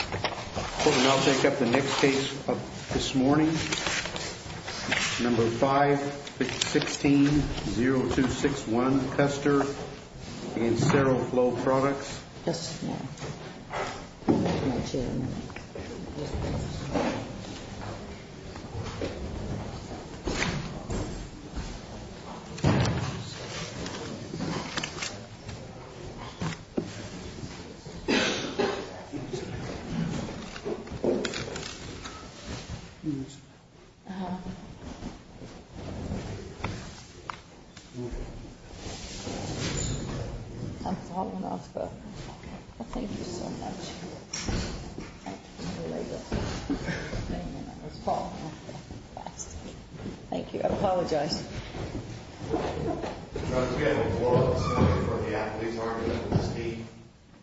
I'll take up the next case of this morning, number 5-16-0261, Custer v. Cerro Flow Products. Thank you so much. Thank you. I apologize.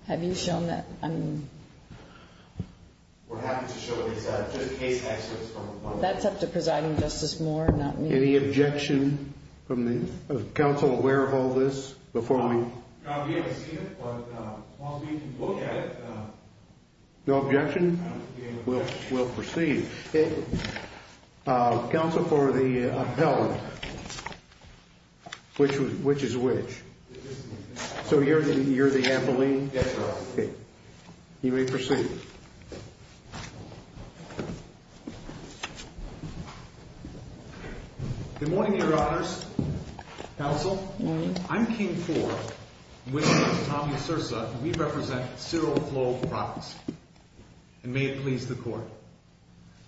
Have you shown that? That's up to Presiding Justice Moore, not me. Any objection? Is counsel aware of all this? No objection? We'll proceed. Counsel for the appellant, which is which? So you're the appellant? Yes, Your Honor. Okay. You may proceed. Good morning, Your Honors. Counsel? Good morning. I'm King Ford, and with me is Tommy Sursa, and we represent Cerro Flow Products. And may it please the Court.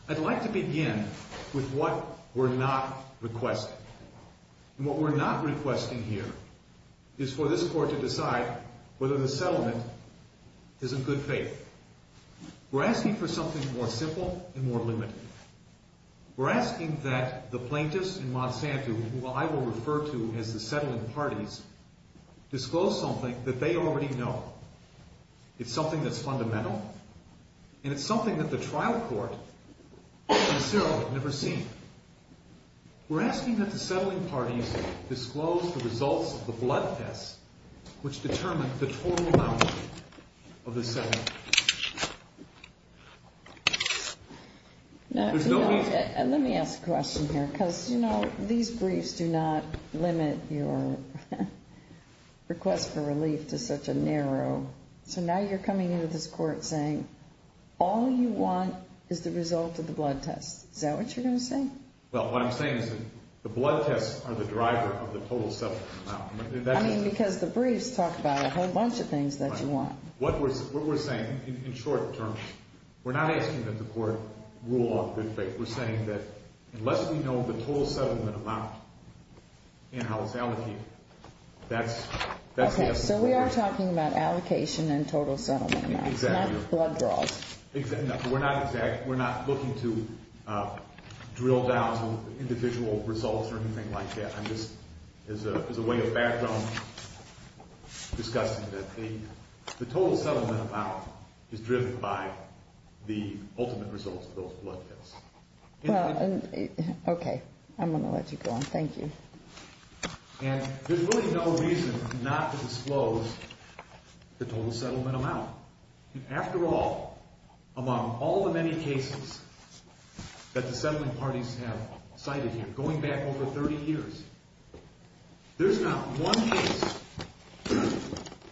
I'd like to begin with what we're not requesting. And what we're not requesting here is for this Court to decide whether the settlement is in good faith. We're asking for something more simple and more limited. We're asking that the plaintiffs in Monsanto, who I will refer to as the settling parties, disclose something that they already know. It's something that's fundamental, and it's something that the trial court and Cerro have never seen. We're asking that the settling parties disclose the results of the blood test, which determined the total amount of the settlement. Now, let me ask a question here, because, you know, these briefs do not limit your request for relief to such a narrow. So now you're coming into this Court saying all you want is the result of the blood test. Is that what you're going to say? Well, what I'm saying is that the blood tests are the driver of the total settlement amount. I mean, because the briefs talk about a whole bunch of things that you want. What we're saying in short terms, we're not asking that the Court rule on good faith. We're saying that unless we know the total settlement amount and how it's allocated, that's the essence of what we're saying. So we are talking about allocation and total settlement amounts, not blood draws. Exactly. We're not looking to drill down to individual results or anything like that. I'm just, as a way of background, discussing that the total settlement amount is driven by the ultimate results of those blood tests. Well, okay. I'm going to let you go on. Thank you. And there's really no reason not to disclose the total settlement amount. After all, among all the many cases that the settlement parties have cited here, going back over 30 years, there's not one case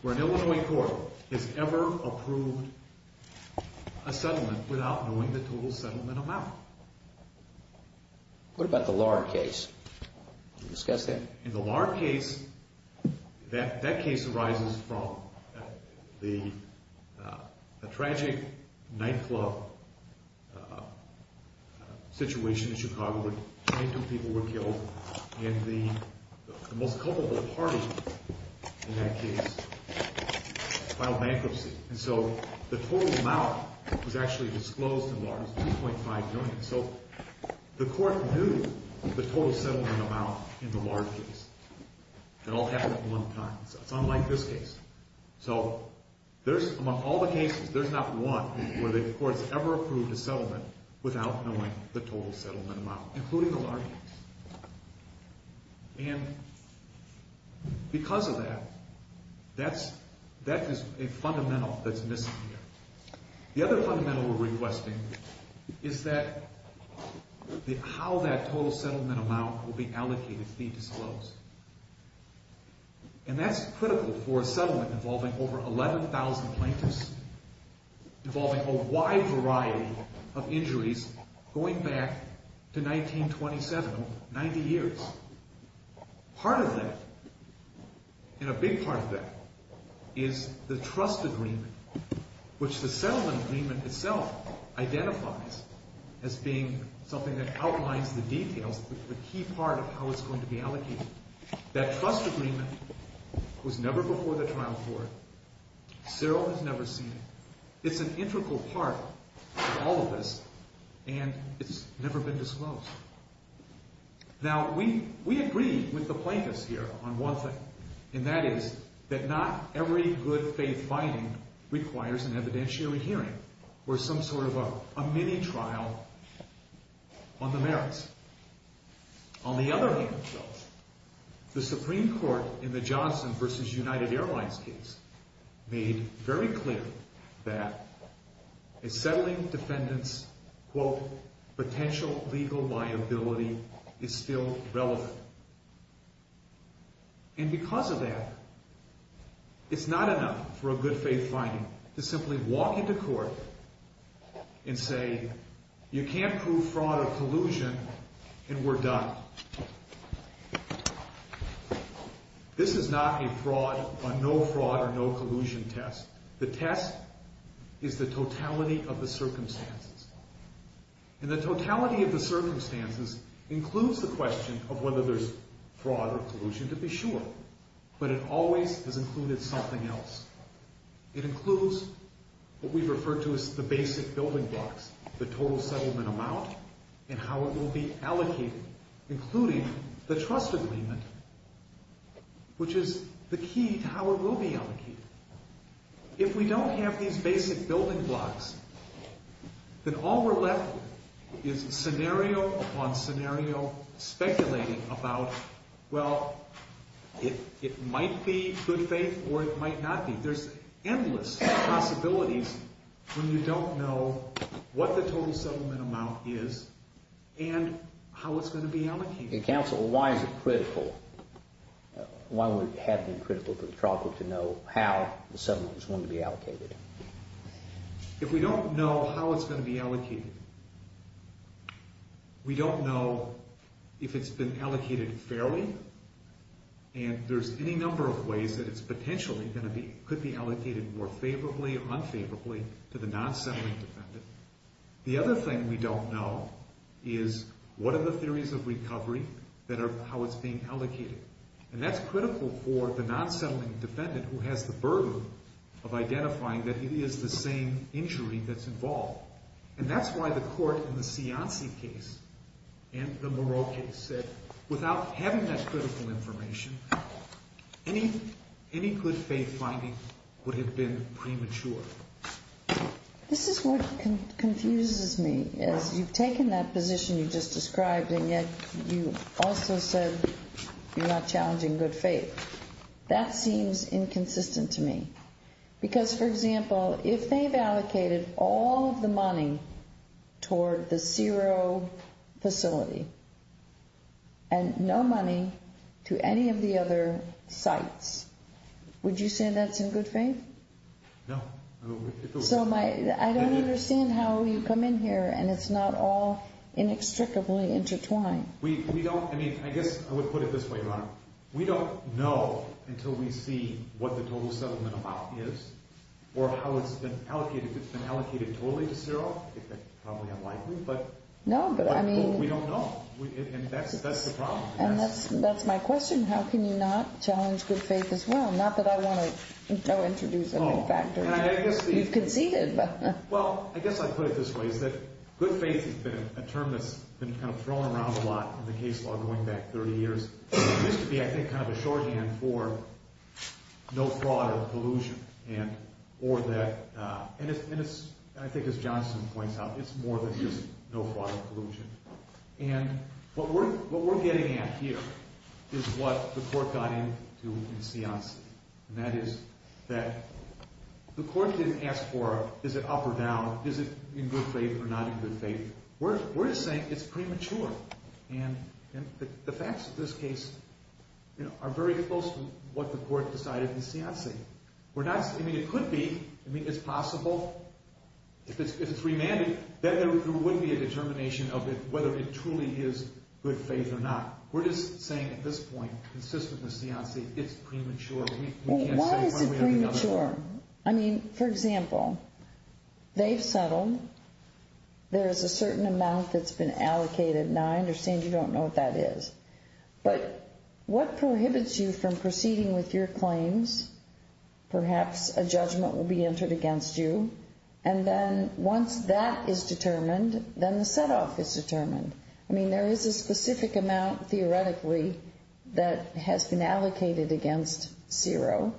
where an Illinois court has ever approved a settlement without knowing the total settlement amount. What about the Lahr case? Did you discuss that? In the Lahr case, that case arises from the tragic nightclub situation in Chicago where 22 people were killed. And the most culpable party in that case filed bankruptcy. And so the total amount was actually disclosed in Lahr. It was $2.5 million. So the court knew the total settlement amount in the Lahr case. It all happened at one time. So it's unlike this case. So among all the cases, there's not one where the court has ever approved a settlement without knowing the total settlement amount, including the Lahr case. And because of that, that is a fundamental that's missing here. The other fundamental we're requesting is how that total settlement amount will be allocated to be disclosed. And that's critical for a settlement involving over 11,000 plaintiffs, involving a wide variety of injuries going back to 1927, 90 years. Part of that, and a big part of that, is the trust agreement, which the settlement agreement itself identifies as being something that outlines the details, the key part of how it's going to be allocated. That trust agreement was never before the trial court. Cyril has never seen it. It's an integral part of all of this, and it's never been disclosed. Now, we agree with the plaintiffs here on one thing, and that is that not every good faith finding requires an evidentiary hearing or some sort of a mini-trial on the merits. On the other hand, though, the Supreme Court in the Johnson v. United Airlines case made very clear that a settling defendant's, quote, potential legal liability is still relevant. And because of that, it's not enough for a good faith finding to simply walk into court and say, you can't prove fraud or collusion, and we're done. This is not a fraud, a no fraud or no collusion test. The test is the totality of the circumstances. And the totality of the circumstances includes the question of whether there's fraud or collusion, to be sure, but it always has included something else. It includes what we refer to as the basic building blocks, the total settlement amount and how it will be allocated, including the trust agreement, which is the key to how it will be allocated. If we don't have these basic building blocks, then all we're left with is scenario upon scenario speculating about, well, it might be good faith or it might not be. There's endless possibilities when you don't know what the total settlement amount is and how it's going to be allocated. If we don't know how it's going to be allocated, we don't know if it's been allocated fairly, and there's any number of ways that it's potentially going to be, could be allocated more favorably or unfavorably to the non-settling defendant. The other thing we don't know is what are the theories of recovery that are, how it's being allocated. And that's critical for the non-settling defendant who has the burden of identifying that it is the same injury that's involved. And that's why the court in the Cianci case and the Moreau case said without having that critical information, any good faith finding would have been premature. This is what confuses me. As you've taken that position you just described, and yet you also said you're not challenging good faith. That seems inconsistent to me. Because, for example, if they've allocated all of the money toward the Ciro facility and no money to any of the other sites, would you say that's in good faith? No. So I don't understand how you come in here and it's not all inextricably intertwined. We don't, I mean, I guess I would put it this way, Your Honor. We don't know until we see what the total settlement amount is or how it's been allocated. If it's been allocated totally to Ciro, it's probably unlikely, but we don't know. And that's the problem. And that's my question. How can you not challenge good faith as well? Not that I want to introduce a new factor. You've conceded. Well, I guess I'd put it this way. Good faith has been a term that's been kind of thrown around a lot in the case law going back 30 years. It used to be, I think, kind of a shorthand for no fraud or collusion. And I think as Johnson points out, it's more than just no fraud or collusion. And what we're getting at here is what the court got into in Cianci. And that is that the court didn't ask for is it up or down, is it in good faith or not in good faith. We're just saying it's premature. And the facts of this case are very close to what the court decided in Cianci. I mean, it could be. I mean, it's possible. If it's remanded, then there wouldn't be a determination of whether it truly is good faith or not. We're just saying at this point, consistent with Cianci, it's premature. Why is it premature? I mean, for example, they've settled. There is a certain amount that's been allocated. Now, I understand you don't know what that is. But what prohibits you from proceeding with your claims? Perhaps a judgment will be entered against you. And then once that is determined, then the setoff is determined. I mean, there is a specific amount, theoretically, that has been allocated against Ciro.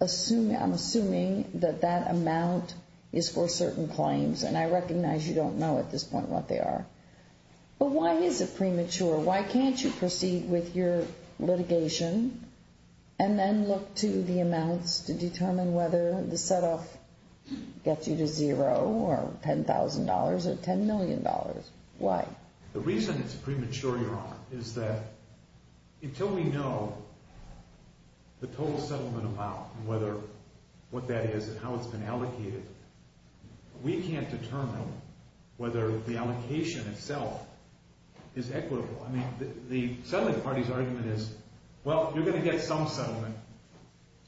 I'm assuming that that amount is for certain claims. And I recognize you don't know at this point what they are. But why is it premature? Why can't you proceed with your litigation? And then look to the amounts to determine whether the setoff gets you to zero or $10,000 or $10 million. Why? The reason it's premature, Your Honor, is that until we know the total settlement amount and what that is and how it's been allocated, we can't determine whether the allocation itself is equitable. I mean, the settlement party's argument is, well, you're going to get some settlement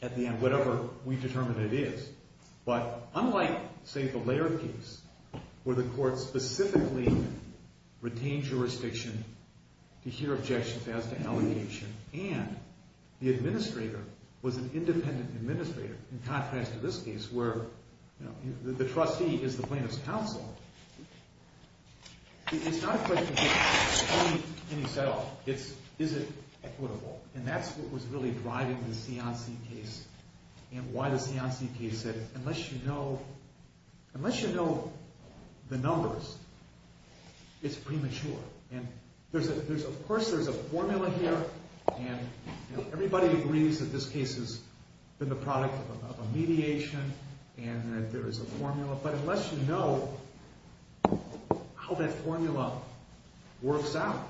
at the end, whatever we determine it is. But unlike, say, the Lehrer case, where the court specifically retained jurisdiction to hear objections as to allocation, and the administrator was an independent administrator, in contrast to this case where the trustee is the plaintiff's counsel, it's not a question of getting any setoff. It's, is it equitable? And that's what was really driving the Cianci case and why the Cianci case said, unless you know the numbers, it's premature. And, of course, there's a formula here, and everybody agrees that this case has been the product of a mediation and that there is a formula. But unless you know how that formula works out,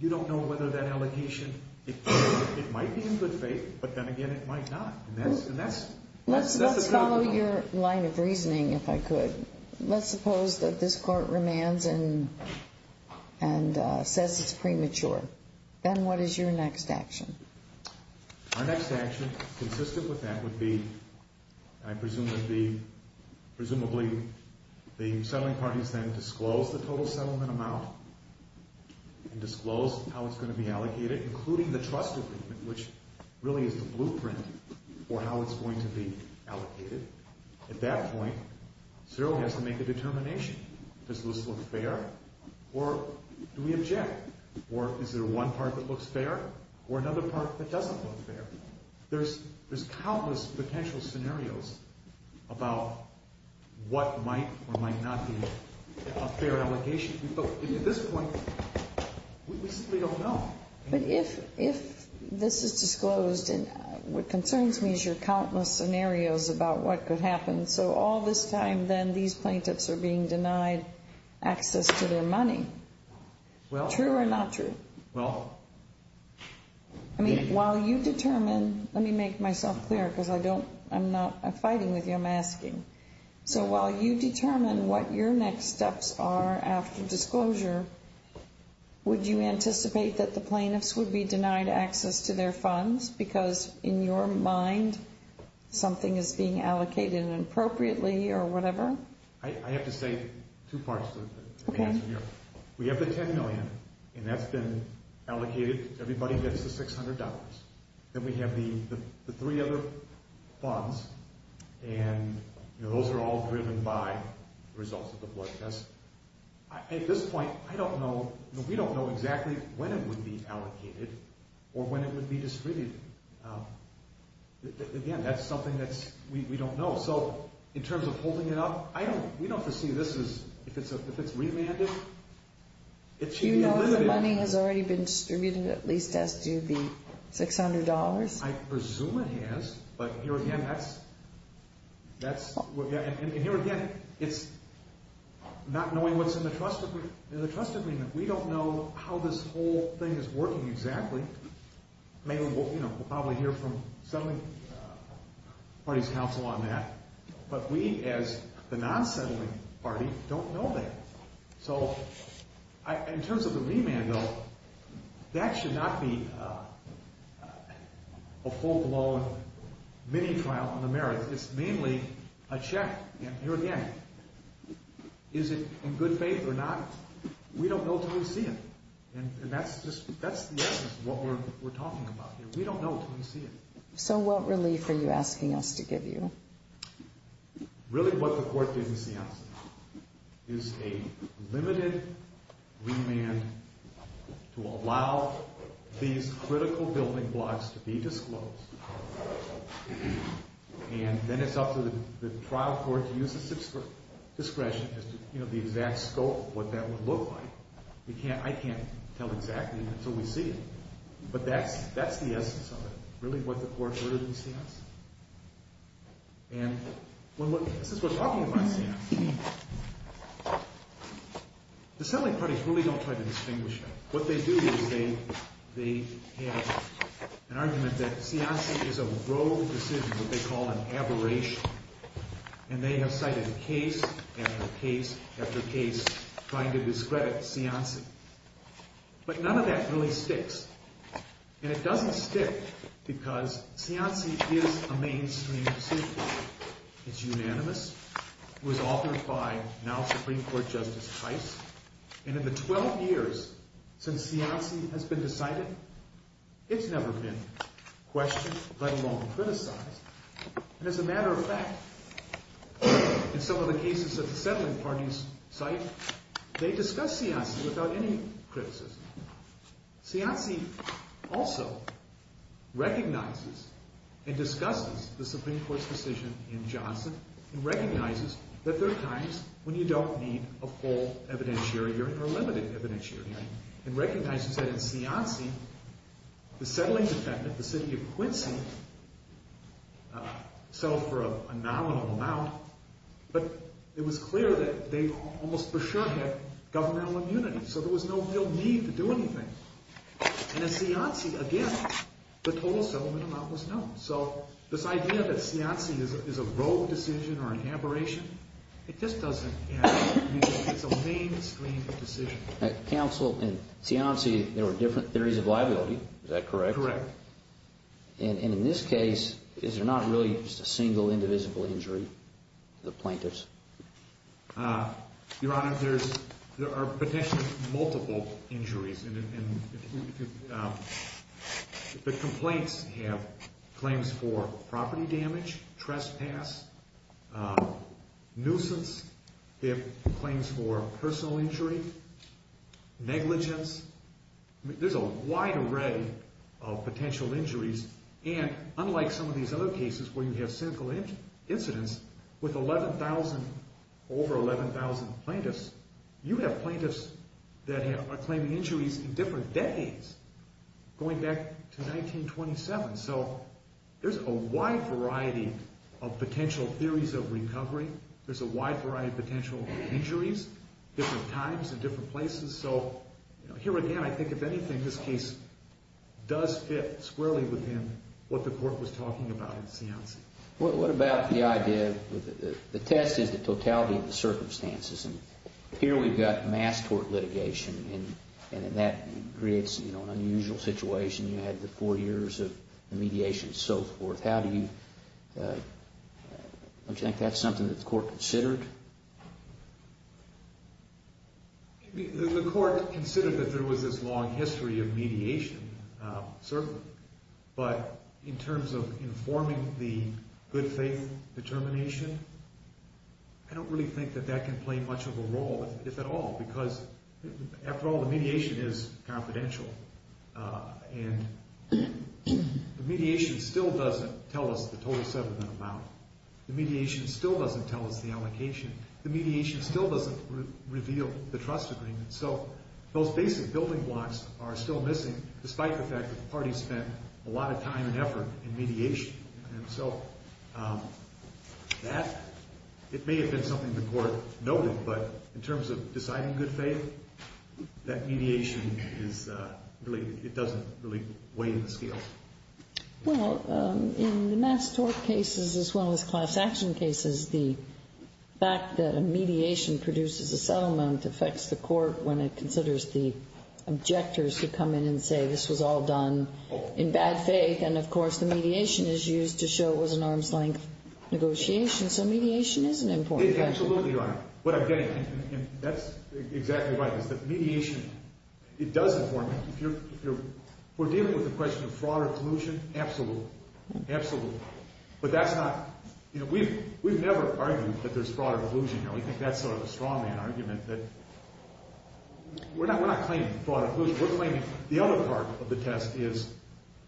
you don't know whether that allocation, it might be in good faith, but then again, it might not. And that's a good one. Let's follow your line of reasoning, if I could. Let's suppose that this court remands and says it's premature. Then what is your next action? Our next action, consistent with that, would be, I presume, would be presumably the settling parties then disclose the total settlement amount and disclose how it's going to be allocated, including the trust agreement, which really is the blueprint for how it's going to be allocated. At that point, Ciro has to make a determination. Does this look fair, or do we object? Or is there one part that looks fair or another part that doesn't look fair? There's countless potential scenarios about what might or might not be a fair allocation. At this point, we simply don't know. But if this is disclosed, what concerns me is your countless scenarios about what could happen. So all this time then these plaintiffs are being denied access to their money. True or not true? I mean, while you determine, let me make myself clear because I don't, I'm not fighting with you, I'm asking. So while you determine what your next steps are after disclosure, would you anticipate that the plaintiffs would be denied access to their funds because in your mind something is being allocated inappropriately or whatever? I have to say two parts to the answer here. We have the $10 million, and that's been allocated. Everybody gets the $600. Then we have the three other funds, and those are all driven by the results of the blood test. At this point, I don't know, we don't know exactly when it would be allocated or when it would be distributed. Again, that's something that we don't know. So in terms of holding it up, we don't foresee this is, if it's remanded, it should be limited. Do you know if the money has already been distributed, at least as to the $600? I presume it has, but here again, that's, and here again, it's not knowing what's in the trust agreement. We don't know how this whole thing is working exactly. We'll probably hear from settling parties' counsel on that, but we as the non-settling party don't know that. So in terms of the remand bill, that should not be a full-blown mini-trial in the merits. It's mainly a check, and here again, is it in good faith or not? We don't know until we see it, and that's the essence of what we're talking about here. We don't know until we see it. So what relief are you asking us to give you? Really what the court didn't see on this is a limited remand to allow these critical building blocks to be disclosed, and then it's up to the trial court to use its discretion as to the exact scope of what that would look like. I can't tell exactly until we see it, but that's the essence of it, really what the court heard in Seance, and this is what we're talking about in Seance. The settling parties really don't try to distinguish that. What they do is they have an argument that Seance is a rogue decision, what they call an aberration, and they have cited case after case after case trying to discredit Seance, but none of that really sticks, and it doesn't stick because Seance is a mainstream decision. It's unanimous. It was authored by now Supreme Court Justice Heiss, and in the 12 years since Seance has been decided, it's never been questioned, let alone criticized, and as a matter of fact, in some of the cases that the settling parties cite, they discuss Seance without any criticism. Seance also recognizes and discusses the Supreme Court's decision in Johnson and recognizes that there are times when you don't need a full evidentiary hearing or a limited evidentiary hearing and recognizes that in Seance, the settling defendant, the city of Quincy settled for a nominal amount, but it was clear that they almost for sure had governmental immunity, so there was no real need to do anything, and in Seance, again, the total settlement amount was known, so this idea that Seance is a rogue decision or an aberration, it just doesn't add up. It's a mainstream decision. Counsel, in Seance, there were different theories of liability. Is that correct? Correct. And in this case, is there not really just a single indivisible injury to the plaintiffs? Your Honor, there are potentially multiple injuries, and the complaints have claims for property damage, trespass, nuisance. They have claims for personal injury, negligence. There's a wide array of potential injuries, and unlike some of these other cases where you have cynical incidents, with over 11,000 plaintiffs, you have plaintiffs that are claiming injuries in different decades, going back to 1927, so there's a wide variety of potential theories of recovery. There's a wide variety of potential injuries, different times and different places, so here again, I think, if anything, this case does fit squarely within what the Court was talking about in Seance. What about the idea that the test is the totality of the circumstances, and here we've got mass tort litigation, and that creates an unusual situation. You had the four years of mediation and so forth. How do you... Don't you think that's something that the Court considered? The Court considered that there was this long history of mediation, certainly, but in terms of informing the good faith determination, I don't really think that that can play much of a role, if at all, because after all, the mediation is confidential, and the mediation still doesn't tell us the total settlement amount. The mediation still doesn't tell us the allocation. The mediation still doesn't reveal the trust agreement, so those basic building blocks are still missing, despite the fact that the parties spent a lot of time and effort in mediation, and so that... It may have been something the Court noted, but in terms of deciding good faith, that mediation is really... It doesn't really weigh in the scales. Well, in the mass tort cases, as well as class action cases, the fact that a mediation produces a settlement affects the Court when it considers the objectors who come in and say, this was all done in bad faith, and, of course, the mediation is used to show it was an arm's-length negotiation, so mediation is an important factor. Absolutely, Your Honor. What I'm getting at, and that's exactly right, is that mediation, it does inform it. If we're dealing with the question of fraud or collusion, absolutely, absolutely, but that's not... You know, we've never argued that there's fraud or collusion. We think that's sort of a straw-man argument, that we're not claiming fraud or collusion. We're claiming the other part of the test is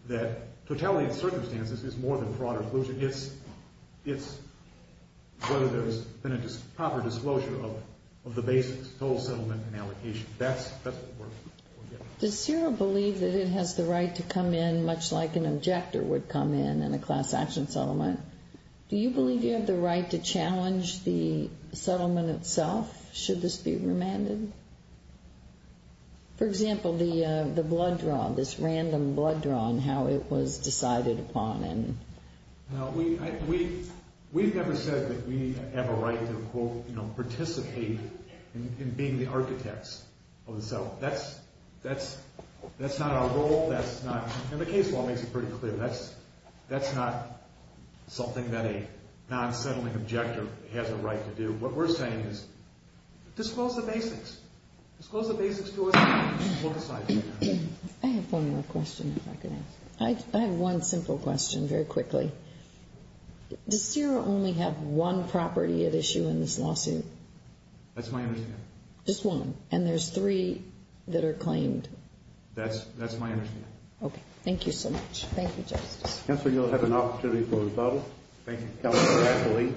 that totality of circumstances is more than fraud or collusion. It's whether there's been a proper disclosure of the basics, total settlement and allocation. That's what we're getting at. Does CIRA believe that it has the right to come in, much like an objector would come in in a class action settlement? Do you believe you have the right to challenge the settlement itself, should this be remanded? For example, the blood draw, this random blood draw and how it was decided upon. We've never said that we have a right to, quote, participate in being the architects of the settlement. That's not our role. And the case law makes it pretty clear. That's not something that a non-settling objector has a right to do. What we're saying is disclose the basics. Disclose the basics to us and we'll decide. I have one more question, if I could ask. I have one simple question, very quickly. Does CIRA only have one property at issue in this lawsuit? That's my understanding. Just one, and there's three that are claimed? That's my understanding. Okay. Thank you so much. Thank you, Justice. Counsel, you'll have an opportunity for rebuttal. Thank you, Counsel. Counsel Lee.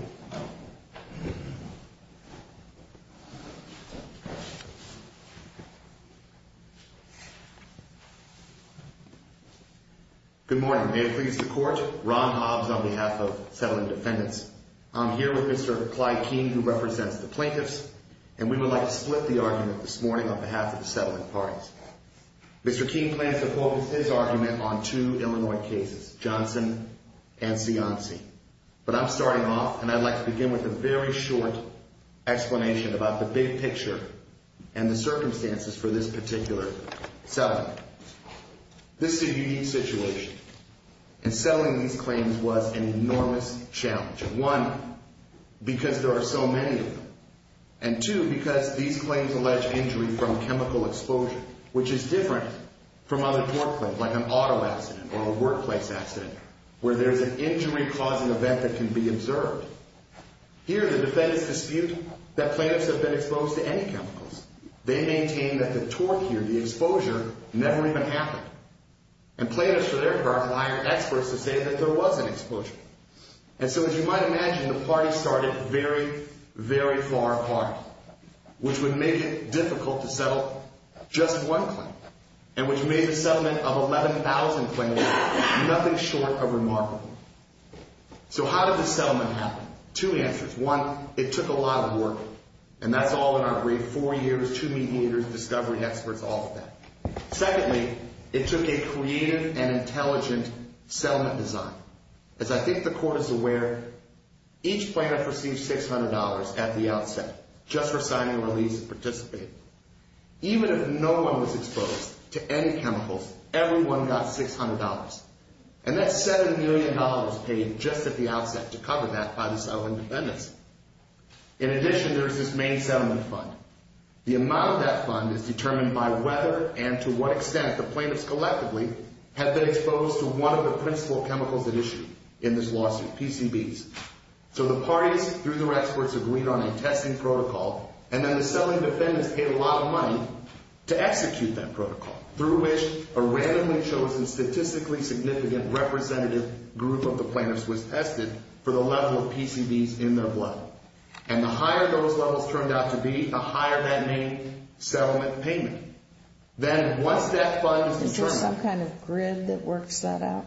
Good morning. May it please the Court. Ron Hobbs on behalf of Settlement Defendants. I'm here with Mr. Clyde Keene, who represents the plaintiffs, and we would like to split the argument this morning on behalf of the settlement parties. Mr. Keene plans to focus his argument on two Illinois cases, Johnson and Cianci. But I'm starting off, and I'd like to begin with a very short explanation about the big picture and the circumstances for this particular settlement. This is a unique situation, and settling these claims was an enormous challenge. And two, because these claims allege injury from chemical exposure, which is different from other tort claims, like an auto accident or a workplace accident, where there's an injury-causing event that can be observed. Here, the defendants dispute that plaintiffs have been exposed to any chemicals. They maintain that the tort here, the exposure, never even happened. And plaintiffs, for their part, hire experts to say that there was an exposure. And so, as you might imagine, the parties started very, very far apart, which would make it difficult to settle just one claim, and which made the settlement of 11,000 claims nothing short of remarkable. So how did the settlement happen? Two answers. One, it took a lot of work, and that's all in our brief. Four years, two meat eaters, discovery experts, all of that. Secondly, it took a creative and intelligent settlement design. As I think the Court is aware, each plaintiff received $600 at the outset, just for signing a release and participating. Even if no one was exposed to any chemicals, everyone got $600. And that's $7 million paid just at the outset to cover that by the settling defendants. In addition, there's this main settlement fund. The amount of that fund is determined by whether and to what extent the plaintiffs collectively have been exposed to one of the principal chemicals at issue in this lawsuit, PCBs. So the parties, through their experts, agreed on a testing protocol, and then the settling defendants paid a lot of money to execute that protocol, through which a randomly chosen statistically significant representative group of the plaintiffs was tested for the level of PCBs in their blood. And the higher those levels turned out to be, the higher that main settlement payment. Then once that fund is determined... Is there some kind of grid that works that out?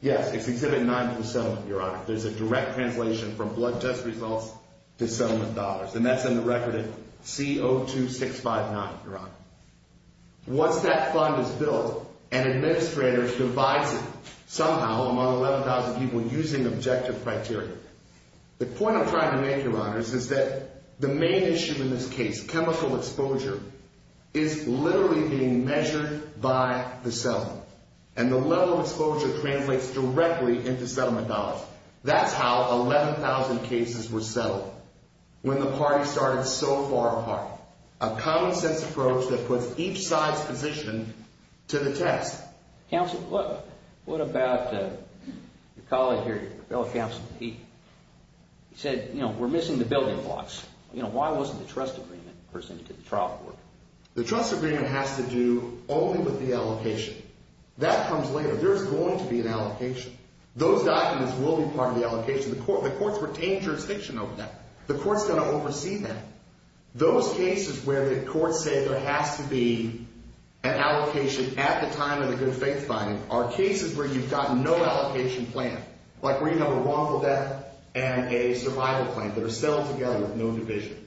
Yes, it's Exhibit 9 to the settlement, Your Honor. There's a direct translation from blood test results to settlement dollars, and that's in the record of CO2-659, Your Honor. Once that fund is built, an administrator divides it somehow among 11,000 people using objective criteria. The point I'm trying to make, Your Honor, is that the main issue in this case, chemical exposure, is literally being measured by the settlement. And the level of exposure translates directly into settlement dollars. That's how 11,000 cases were settled, when the parties started so far apart. A common-sense approach that puts each side's position to the test. Counsel, what about your colleague here, your fellow counsel, Pete? He said, you know, we're missing the building blocks. You know, why wasn't the trust agreement presented to the trial court? The trust agreement has to do only with the allocation. That comes later. There's going to be an allocation. Those documents will be part of the allocation. The court's retained jurisdiction over that. The court's going to oversee that. Those cases where the courts say there has to be an allocation at the time of the good faith finding are cases where you've got no allocation plan, like where you have a wrongful death and a survival plan that are settled together with no division,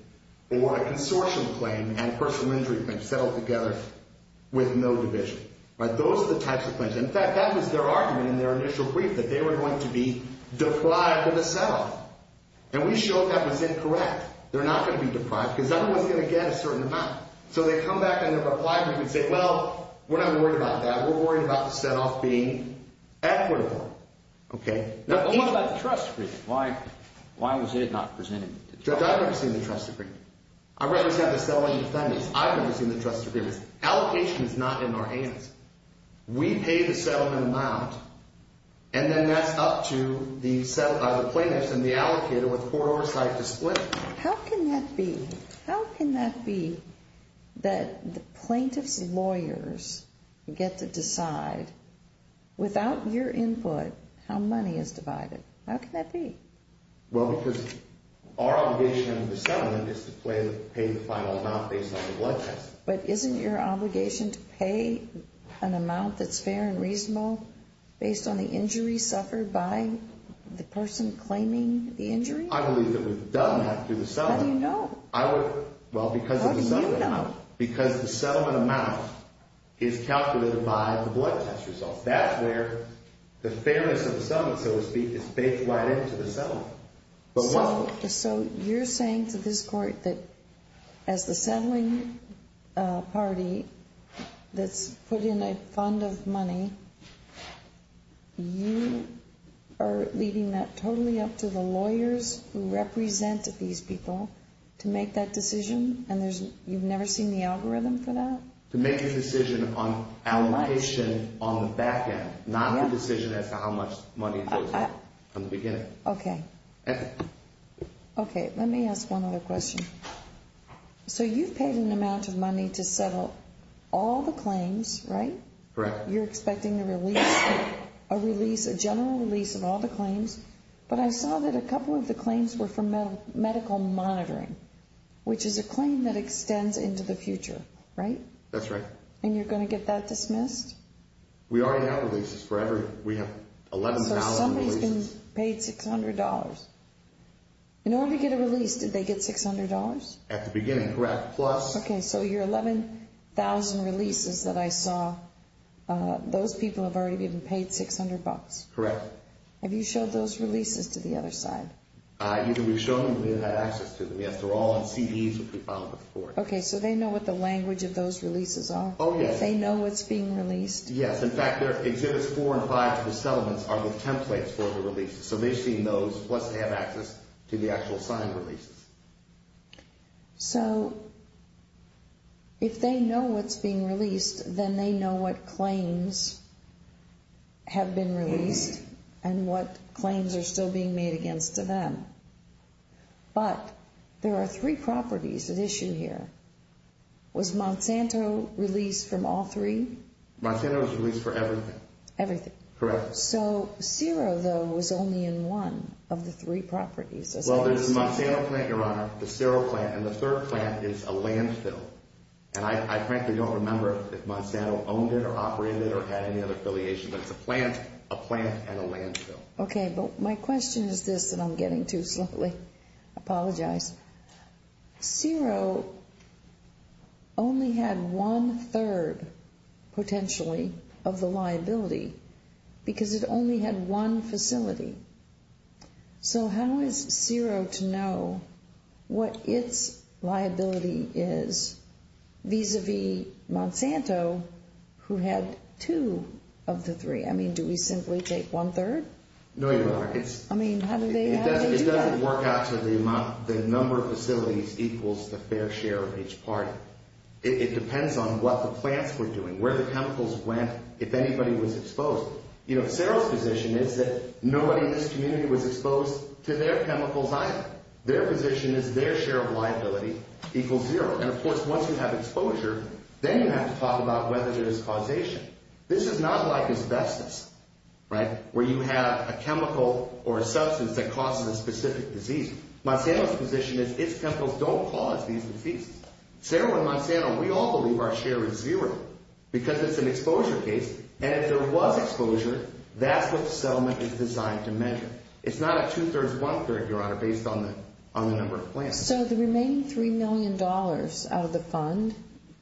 or a consortium claim and personal injury claim settled together with no division. Those are the types of claims. In fact, that was their argument in their initial brief, that they were going to be deprived of a set-off. And we showed that was incorrect. They're not going to be deprived because everyone's going to get a certain amount. So they come back in their reply brief and say, well, we're not worried about that. We're worried about the set-off being equitable. What about the trust agreement? Why was it not presented? Judge, I've never seen the trust agreement. I represent the settlement defendants. I've never seen the trust agreement. Allocation is not in our hands. We pay the settlement amount, and then that's up to the plaintiffs and the allocator with poor oversight to split. How can that be? That the plaintiffs' lawyers get to decide, without your input, how money is divided. How can that be? Well, because our obligation under the settlement is to pay the final amount based on the blood test. But isn't your obligation to pay an amount that's fair and reasonable based on the injury suffered by the person claiming the injury? I believe that we've done that through the settlement. How do you know? Well, because of the settlement amount. How do you know? Because the settlement amount is calculated by the blood test results. That's where the fairness of the settlement, so to speak, is baked right into the settlement. So you're saying to this court that as the settling party that's put in a fund of money, you are leaving that totally up to the lawyers who represent these people to make that decision, and you've never seen the algorithm for that? To make a decision on allocation on the back end, not a decision as to how much money goes in from the beginning. Okay. Okay, let me ask one other question. So you've paid an amount of money to settle all the claims, right? Correct. You're expecting a release, a general release of all the claims, but I saw that a couple of the claims were for medical monitoring, which is a claim that extends into the future, right? That's right. And you're going to get that dismissed? We already have releases for everything. We have $11,000 releases. So somebody's been paid $600. In order to get a release, did they get $600? At the beginning, correct, plus... Okay, so your $11,000 releases that I saw, those people have already been paid $600? Correct. Have you showed those releases to the other side? Either we've shown them or we haven't had access to them yet. They're all on CDs, which we filed before. Okay, so they know what the language of those releases are? Oh, yes. They know what's being released? Yes. In fact, Exhibits 4 and 5 to the settlements are the templates for the releases, so they've seen those, plus they have access to the actual signed releases. So if they know what's being released, then they know what claims have been released and what claims are still being made against them. But there are three properties at issue here. Was Monsanto released from all three? Monsanto was released for everything. Everything. Correct. So Xero, though, was only in one of the three properties. Well, there's the Monsanto plant, Your Honor, the Xero plant, and the third plant is a landfill. And I frankly don't remember if Monsanto owned it or operated it or had any other affiliation, but it's a plant, a plant, and a landfill. Okay, but my question is this, and I'm getting too slowly. I apologize. Xero only had one-third, potentially, of the liability because it only had one facility. So how is Xero to know what its liability is vis-à-vis Monsanto, who had two of the three? I mean, do we simply take one-third? No, Your Honor. I mean, how do they do that? It doesn't work out to the number of facilities equals the fair share of each party. It depends on what the plants were doing, where the chemicals went, if anybody was exposed. Xero's position is that nobody in this community was exposed to their chemicals either. Their position is their share of liability equals zero. And, of course, once you have exposure, then you have to talk about whether there is causation. This is not like asbestos, right, where you have a chemical or a substance that causes a specific disease. Monsanto's position is its chemicals don't cause these diseases. Xero and Monsanto, we all believe our share is zero because it's an exposure case, and if there was exposure, that's what the settlement is designed to measure. It's not a two-thirds, one-third, Your Honor, based on the number of plants. So the remaining $3 million out of the fund,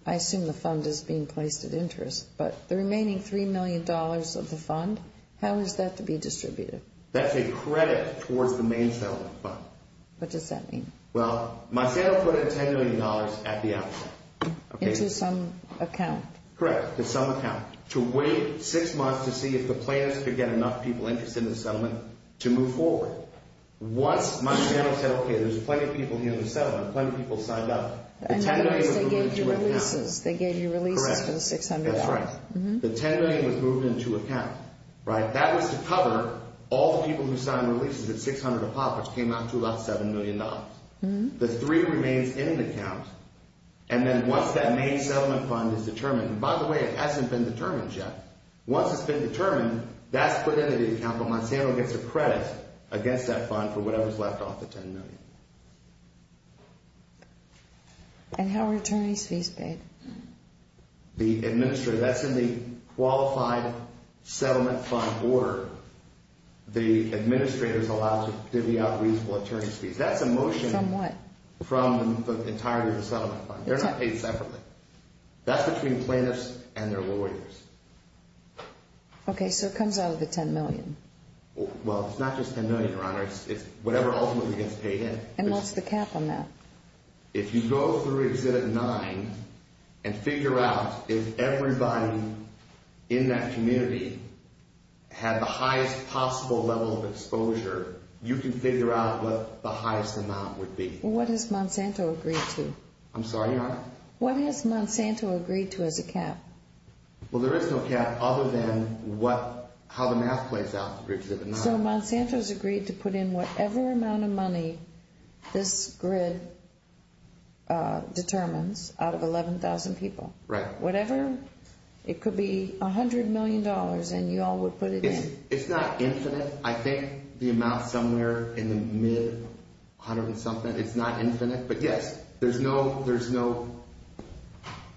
I assume the fund is being placed at interest, but the remaining $3 million of the fund, how is that to be distributed? That's a credit towards the main settlement fund. What does that mean? Well, Monsanto put in $10 million at the outset. Into some account? Correct, to some account, to wait six months to see if the plans could get enough people interested in the settlement to move forward. Once Monsanto said, okay, there's plenty of people here in the settlement, plenty of people signed up. In other words, they gave you releases. They gave you releases for the $600,000. That's right. The $10 million was moved into account, right? That was to cover all the people who signed releases. The $600,000 of profits came out to about $7 million. The $3 remains in an account, and then once that main settlement fund is determined, and by the way, it hasn't been determined yet. Once it's been determined, that's put into the account, but Monsanto gets a credit against that fund for whatever's left off the $10 million. And how are attorney's fees paid? The administrator, that's in the qualified settlement fund order. That's a motion. From what? From the entirety of the settlement fund. They're not paid separately. That's between plaintiffs and their lawyers. Okay, so it comes out of the $10 million. Well, it's not just $10 million, Your Honor. It's whatever ultimately gets paid in. And what's the cap on that? If you go through Exhibit 9 and figure out if everybody in that community had the highest possible level of exposure, you can figure out what the highest amount would be. Well, what has Monsanto agreed to? I'm sorry, Your Honor? What has Monsanto agreed to as a cap? Well, there is no cap other than how the math plays out through Exhibit 9. So Monsanto's agreed to put in whatever amount of money this grid determines out of 11,000 people. Right. Whatever it could be, $100 million, and you all would put it in. It's not infinite. I think the amount somewhere in the mid-100-something, it's not infinite. But yes, there's no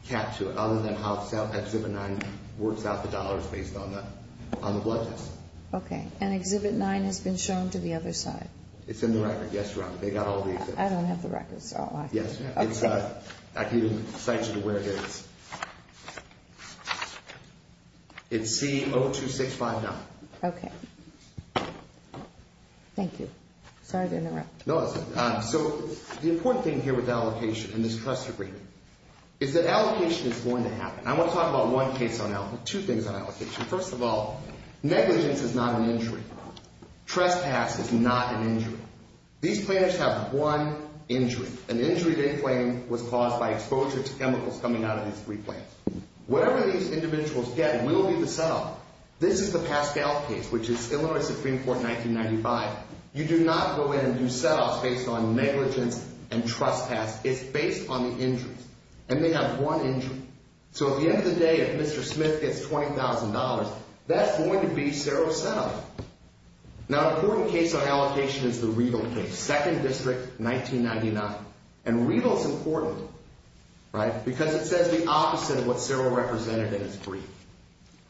cap to it other than how Exhibit 9 works out the dollars based on the budgets. Okay. And Exhibit 9 has been shown to the other side. It's in the record. Yes, Your Honor. They got all the exhibits. I don't have the records. Yes. Okay. I can cite you to where it is. It's C-02659. Okay. Thank you. Sorry to interrupt. No, it's all right. So the important thing here with allocation and this trust agreement is that allocation is going to happen. I want to talk about one case on allocation, two things on allocation. First of all, negligence is not an injury. Trespass is not an injury. These plaintiffs have one injury. An injury they claim was caused by exposure to chemicals coming out of these three plants. Whatever these individuals get will be the set-off. This is the Pascal case, which is Illinois Supreme Court in 1995. You do not go in and do set-offs based on negligence and trespass. It's based on the injuries. And they have one injury. So at the end of the day, if Mr. Smith gets $20,000, that's going to be Sero's set-off. Now, an important case on allocation is the Regal case, 2nd District, 1999. And Regal is important, right, because it says the opposite of what Sero represented in his brief.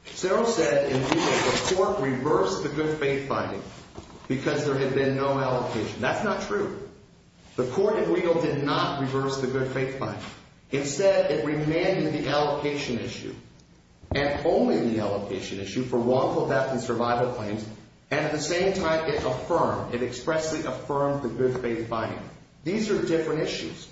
Sero said in Regal the court reversed the good faith finding because there had been no allocation. That's not true. The court in Regal did not reverse the good faith finding. Instead, it remanded the allocation issue and only the allocation issue for wrongful death and survival claims. And at the same time, it affirmed, it expressly affirmed the good faith finding. These are the different issues.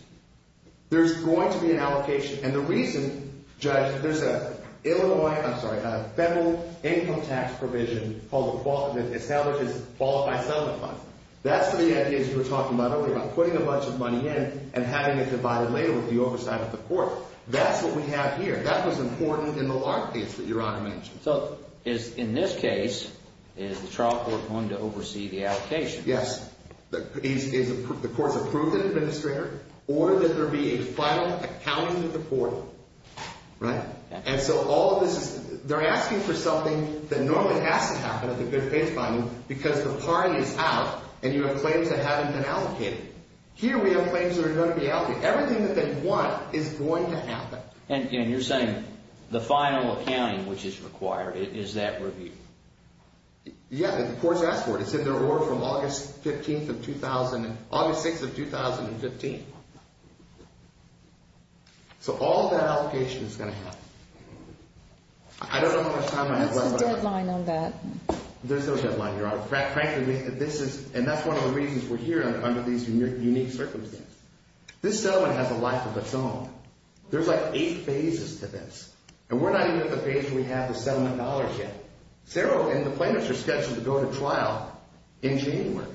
There's going to be an allocation. And the reason, Judge, there's a Illinois, I'm sorry, a federal income tax provision called the Establishes Qualified Settlement Fund. That's the idea, as you were talking about earlier, about putting a bunch of money in and having it divided later with the oversight of the court. That's what we have here. That was important in the Lark case that Your Honor mentioned. So in this case, is the trial court going to oversee the allocation? Yes. The court's approved an administrator or that there be a final accountant at the court, right? And so all of this is, they're asking for something that normally has to happen at the good faith finding because the party is out and you have claims that haven't been allocated. Here we have claims that are going to be allocated. Everything that they want is going to happen. And you're saying the final accounting which is required is that review? Yeah. The court's asked for it. It's in their order from August 15th of 2000, August 6th of 2015. So all that allocation is going to happen. I don't know how much time I have left. There's a deadline on that. There's no deadline, Your Honor. Frankly, this is, and that's one of the reasons we're here under these unique circumstances. This settlement has a life of its own. There's like eight phases to this. And we're not even at the phase where we have the settlement dollars yet. Sarah and the plaintiffs are scheduled to go to trial in January,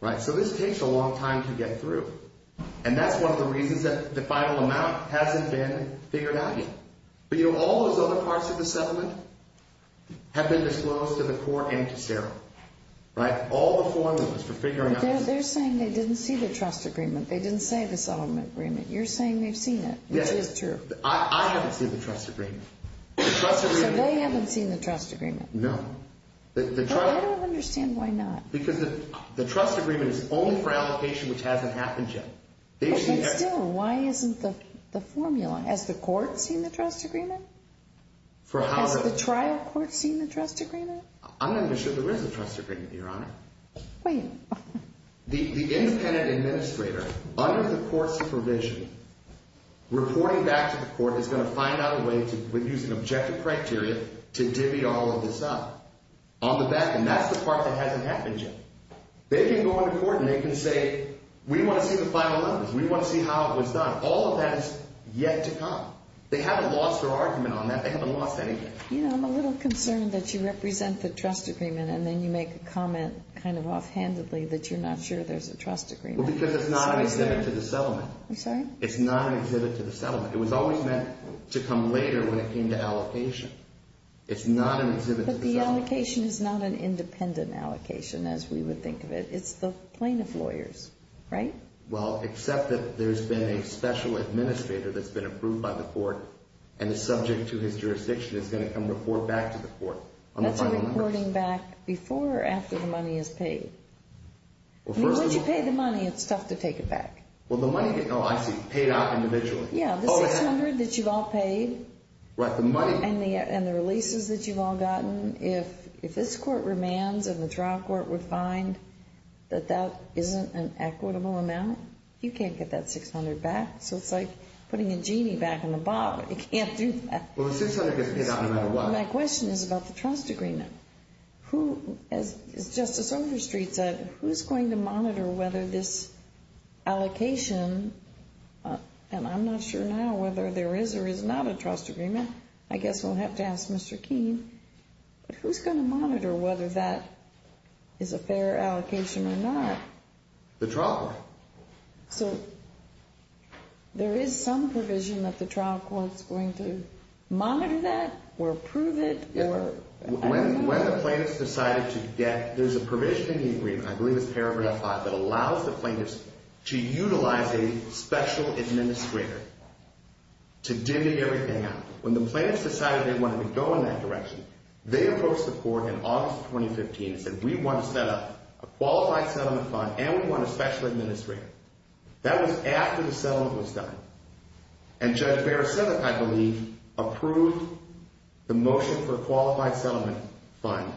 right? So this takes a long time to get through. And that's one of the reasons that the final amount hasn't been figured out yet. But, you know, all those other parts of the settlement have been disclosed to the court and to Sarah. Right? All the formulas for figuring out. They're saying they didn't see the trust agreement. They didn't say the settlement agreement. You're saying they've seen it, which is true. I haven't seen the trust agreement. So they haven't seen the trust agreement? No. Well, I don't understand why not. Because the trust agreement is only for allocation, which hasn't happened yet. But still, why isn't the formula? Has the court seen the trust agreement? Has the trial court seen the trust agreement? I'm not even sure there is a trust agreement, Your Honor. Wait. The independent administrator, under the court's supervision, reporting back to the court, is going to find out a way to use an objective criteria to divvy all of this up. On the back end, that's the part that hasn't happened yet. They can go into court and they can say, we want to see the final evidence. We want to see how it was done. All of that is yet to come. They haven't lost their argument on that. They haven't lost anything. You know, I'm a little concerned that you represent the trust agreement and then you make a comment kind of offhandedly that you're not sure there's a trust agreement. Well, because it's not an exhibit to the settlement. I'm sorry? It's not an exhibit to the settlement. It was always meant to come later when it came to allocation. It's not an exhibit to the settlement. The allocation is not an independent allocation as we would think of it. It's the plaintiff lawyers, right? Well, except that there's been a special administrator that's been approved by the court and is subject to his jurisdiction is going to come report back to the court on the final numbers. That's reporting back before or after the money is paid? I mean, once you pay the money, it's tough to take it back. Well, the money gets paid out individually. Yeah, the $600 that you've all paid. Right, the money. And the releases that you've all gotten. If this court remands and the trial court would find that that isn't an equitable amount, you can't get that $600 back. So it's like putting a genie back in the box. You can't do that. Well, the $600 gets paid out no matter what. My question is about the trust agreement. As Justice Overstreet said, who's going to monitor whether this allocation, and I'm not sure now whether there is or is not a trust agreement. I guess we'll have to ask Mr. Keene. But who's going to monitor whether that is a fair allocation or not? The trial court. So there is some provision that the trial court is going to monitor that or approve it? When the plaintiff's decided to get, there's a provision in the agreement, I believe it's Paragraph 5, that allows the plaintiffs to utilize a special administrator to dimmy everything out. When the plaintiffs decided they wanted to go in that direction, they approached the court in August of 2015 and said, we want to set up a qualified settlement fund and we want a special administrator. That was after the settlement was done. And Judge Barasiewicz, I believe, approved the motion for a qualified settlement fund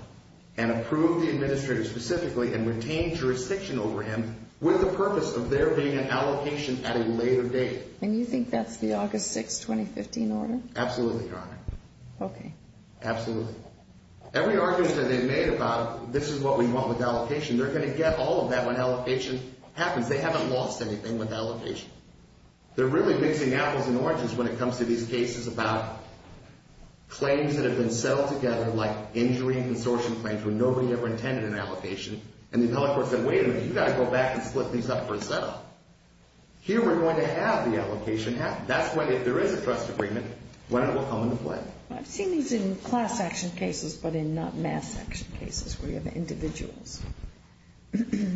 and approved the administrator specifically and retained jurisdiction over him with the purpose of there being an allocation at a later date. And you think that's the August 6, 2015 order? Absolutely, Your Honor. Okay. Absolutely. Every argument that they've made about this is what we want with allocation, they're going to get all of that when allocation happens. They haven't lost anything with allocation. They're really mixing apples and oranges when it comes to these cases about claims that have been settled together like injury and consortium claims when nobody ever intended an allocation, and the appellate court said, wait a minute, you've got to go back and split these up for a set-up. Here we're going to have the allocation happen. That's when, if there is a trust agreement, when it will come into play. I've seen these in class action cases but in not mass action cases where you have individuals,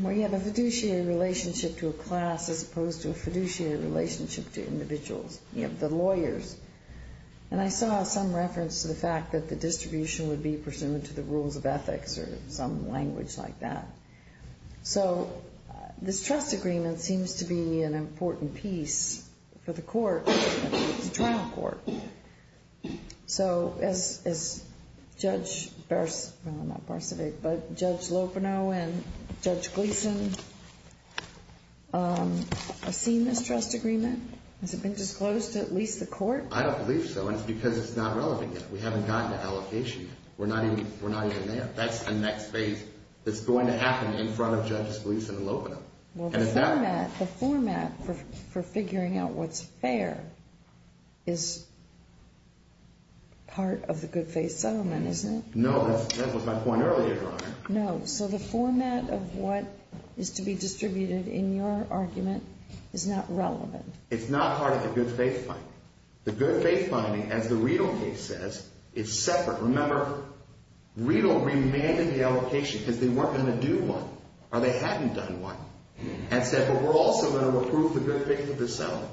where you have a fiduciary relationship to a class as opposed to a fiduciary relationship to individuals. You have the lawyers. And I saw some reference to the fact that the distribution would be pursuant to the rules of ethics or some language like that. So this trust agreement seems to be an important piece for the court, the trial court. So has Judge Lopeno and Judge Gleason seen this trust agreement? Has it been disclosed to at least the court? I don't believe so, and it's because it's not relevant yet. We haven't gotten an allocation yet. We're not even there. That's the next phase that's going to happen in front of Judge Gleason and Lopeno. Well, the format for figuring out what's fair is part of the good faith settlement, isn't it? No, that was my point earlier, Your Honor. No, so the format of what is to be distributed in your argument is not relevant. It's not part of the good faith finding. The good faith finding, as the Riedel case says, is separate. Remember, Riedel remanded the allocation because they weren't going to do one or they hadn't done one and said, well, we're also going to approve the good faith of the settlement.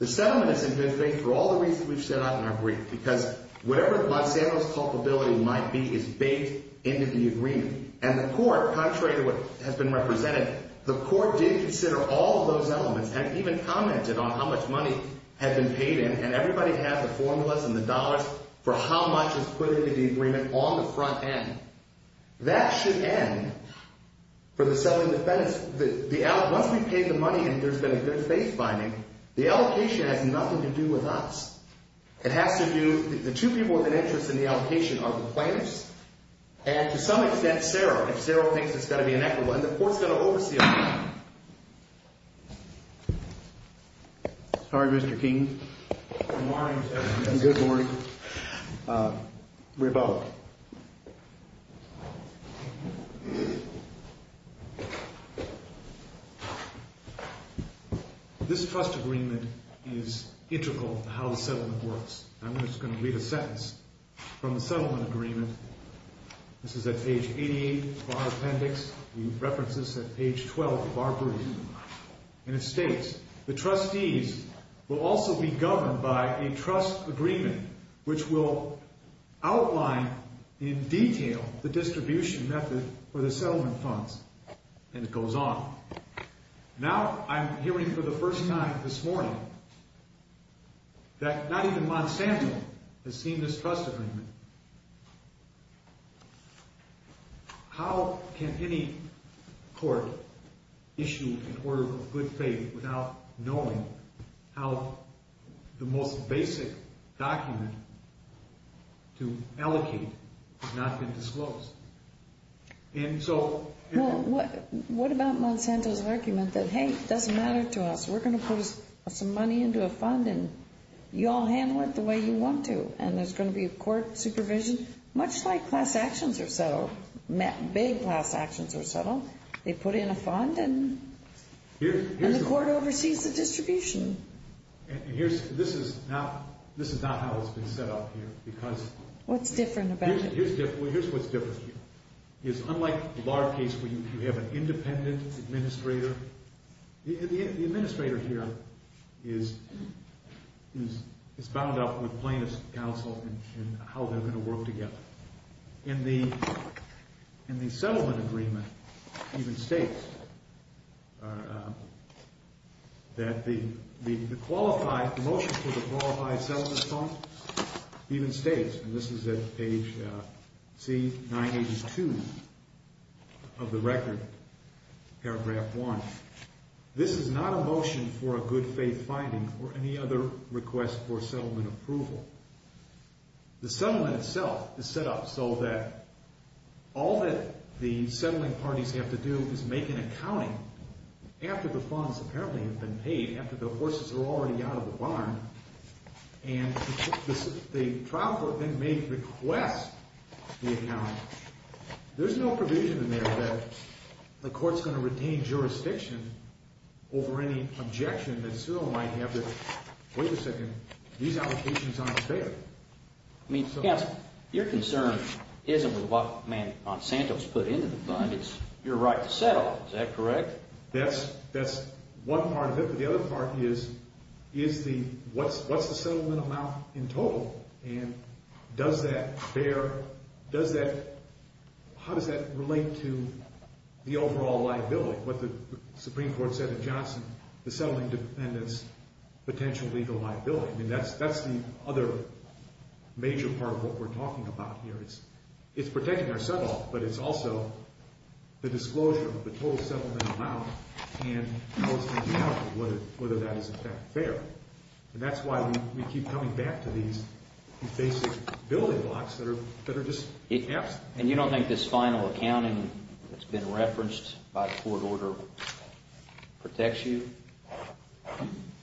The settlement is in good faith for all the reasons we've set out in our brief because whatever Monsanto's culpability might be is baked into the agreement. And the court, contrary to what has been represented, the court did consider all of those elements and even commented on how much money had been paid in, and everybody had the formulas and the dollars for how much was put into the agreement on the front end. That should end for the settlement defense. Once we've paid the money and there's been a good faith finding, the allocation has nothing to do with us. It has to do, the two people with an interest in the allocation are the plaintiffs and to some extent, Sarah. If Sarah thinks it's got to be inequitable, and the court's going to oversee it. Sorry, Mr. King. Good morning, sir. Good morning. We're both. This trust agreement is integral to how the settlement works. I'm just going to read a sentence from the settlement agreement. This is at page 88 of our appendix. We reference this at page 12 of our brief. And it states, the trustees will also be governed by a trust agreement which will outline in detail the distribution method for the settlement funds. And it goes on. Now I'm hearing for the first time this morning that not even Monsanto has seen this trust agreement. How can any court issue an order of good faith without knowing how the most basic document to allocate has not been disclosed? What about Monsanto's argument that, hey, it doesn't matter to us, we're going to put some money into a fund and you all handle it the way you want to and there's going to be a court supervision? Much like class actions are settled, big class actions are settled. They put in a fund and the court oversees the distribution. This is not how it's been set up here. What's different about it? Here's what's different. It's unlike the bar case where you have an independent administrator. The administrator here is bound up with plaintiff's counsel in how they're going to work together. And the settlement agreement even states that the motion for the qualified settlement funds even states and this is at page C982 of the record, paragraph 1. This is not a motion for a good faith finding or any other request for settlement approval. The settlement itself is set up so that all that the settling parties have to do is make an accounting after the funds apparently have been paid, after the horses are already out of the barn. And the trial court then may request the accounting. There's no provision in there that the court's going to retain jurisdiction over any objection that Cyril might have that, wait a second, these allocations aren't fair. I mean, counsel, your concern isn't with what Monsanto's put into the fund. It's your right to settle. Is that correct? That's one part of it. But the other part is what's the settlement amount in total? And how does that relate to the overall liability? What the Supreme Court said in Johnson, the settling dependents' potential legal liability. I mean, that's the other major part of what we're talking about here. It's protecting our settle, but it's also the disclosure of the total settlement amount and whether that is in fact fair. And that's why we keep coming back to these basic building blocks that are just absent. And you don't think this final accounting that's been referenced by the court order protects you?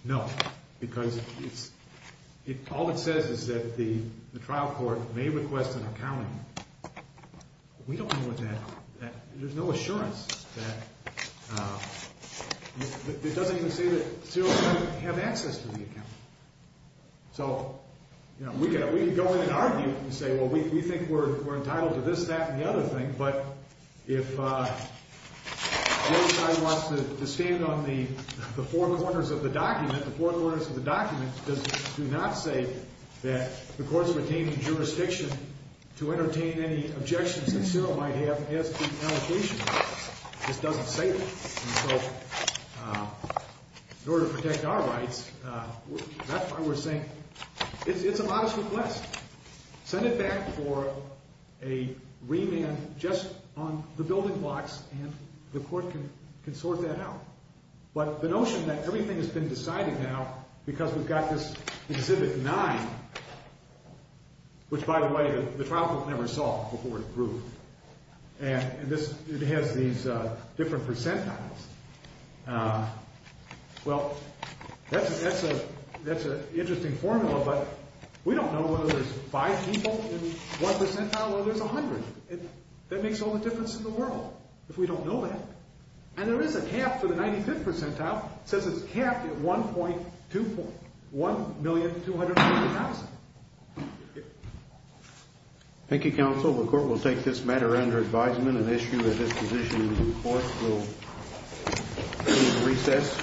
No, because all it says is that the trial court may request an accounting. We don't know what that – there's no assurance that – it doesn't even say that Cyril might have access to the accounting. So, you know, we can go in and argue and say, well, we think we're entitled to this, that, and the other thing, but if the other side wants to stand on the four corners of the document, the four corners of the document do not say that the court's retaining jurisdiction to entertain any objections that Cyril might have as to the allocation. This doesn't say that. And so in order to protect our rights, that's why we're saying it's a modest request. Send it back for a remand just on the building blocks, and the court can sort that out. But the notion that everything has been decided now because we've got this Exhibit 9, which, by the way, the trial court never saw before it was approved. And this – it has these different percentiles. Well, that's an interesting formula, but we don't know whether there's five people in one percentile or there's 100. That makes all the difference in the world if we don't know that. And there is a cap for the 95th percentile. It says it's capped at 1.2 point – 1,250,000. Thank you, counsel. The court will take this matter under advisement and issue a disposition to the court. We'll recess.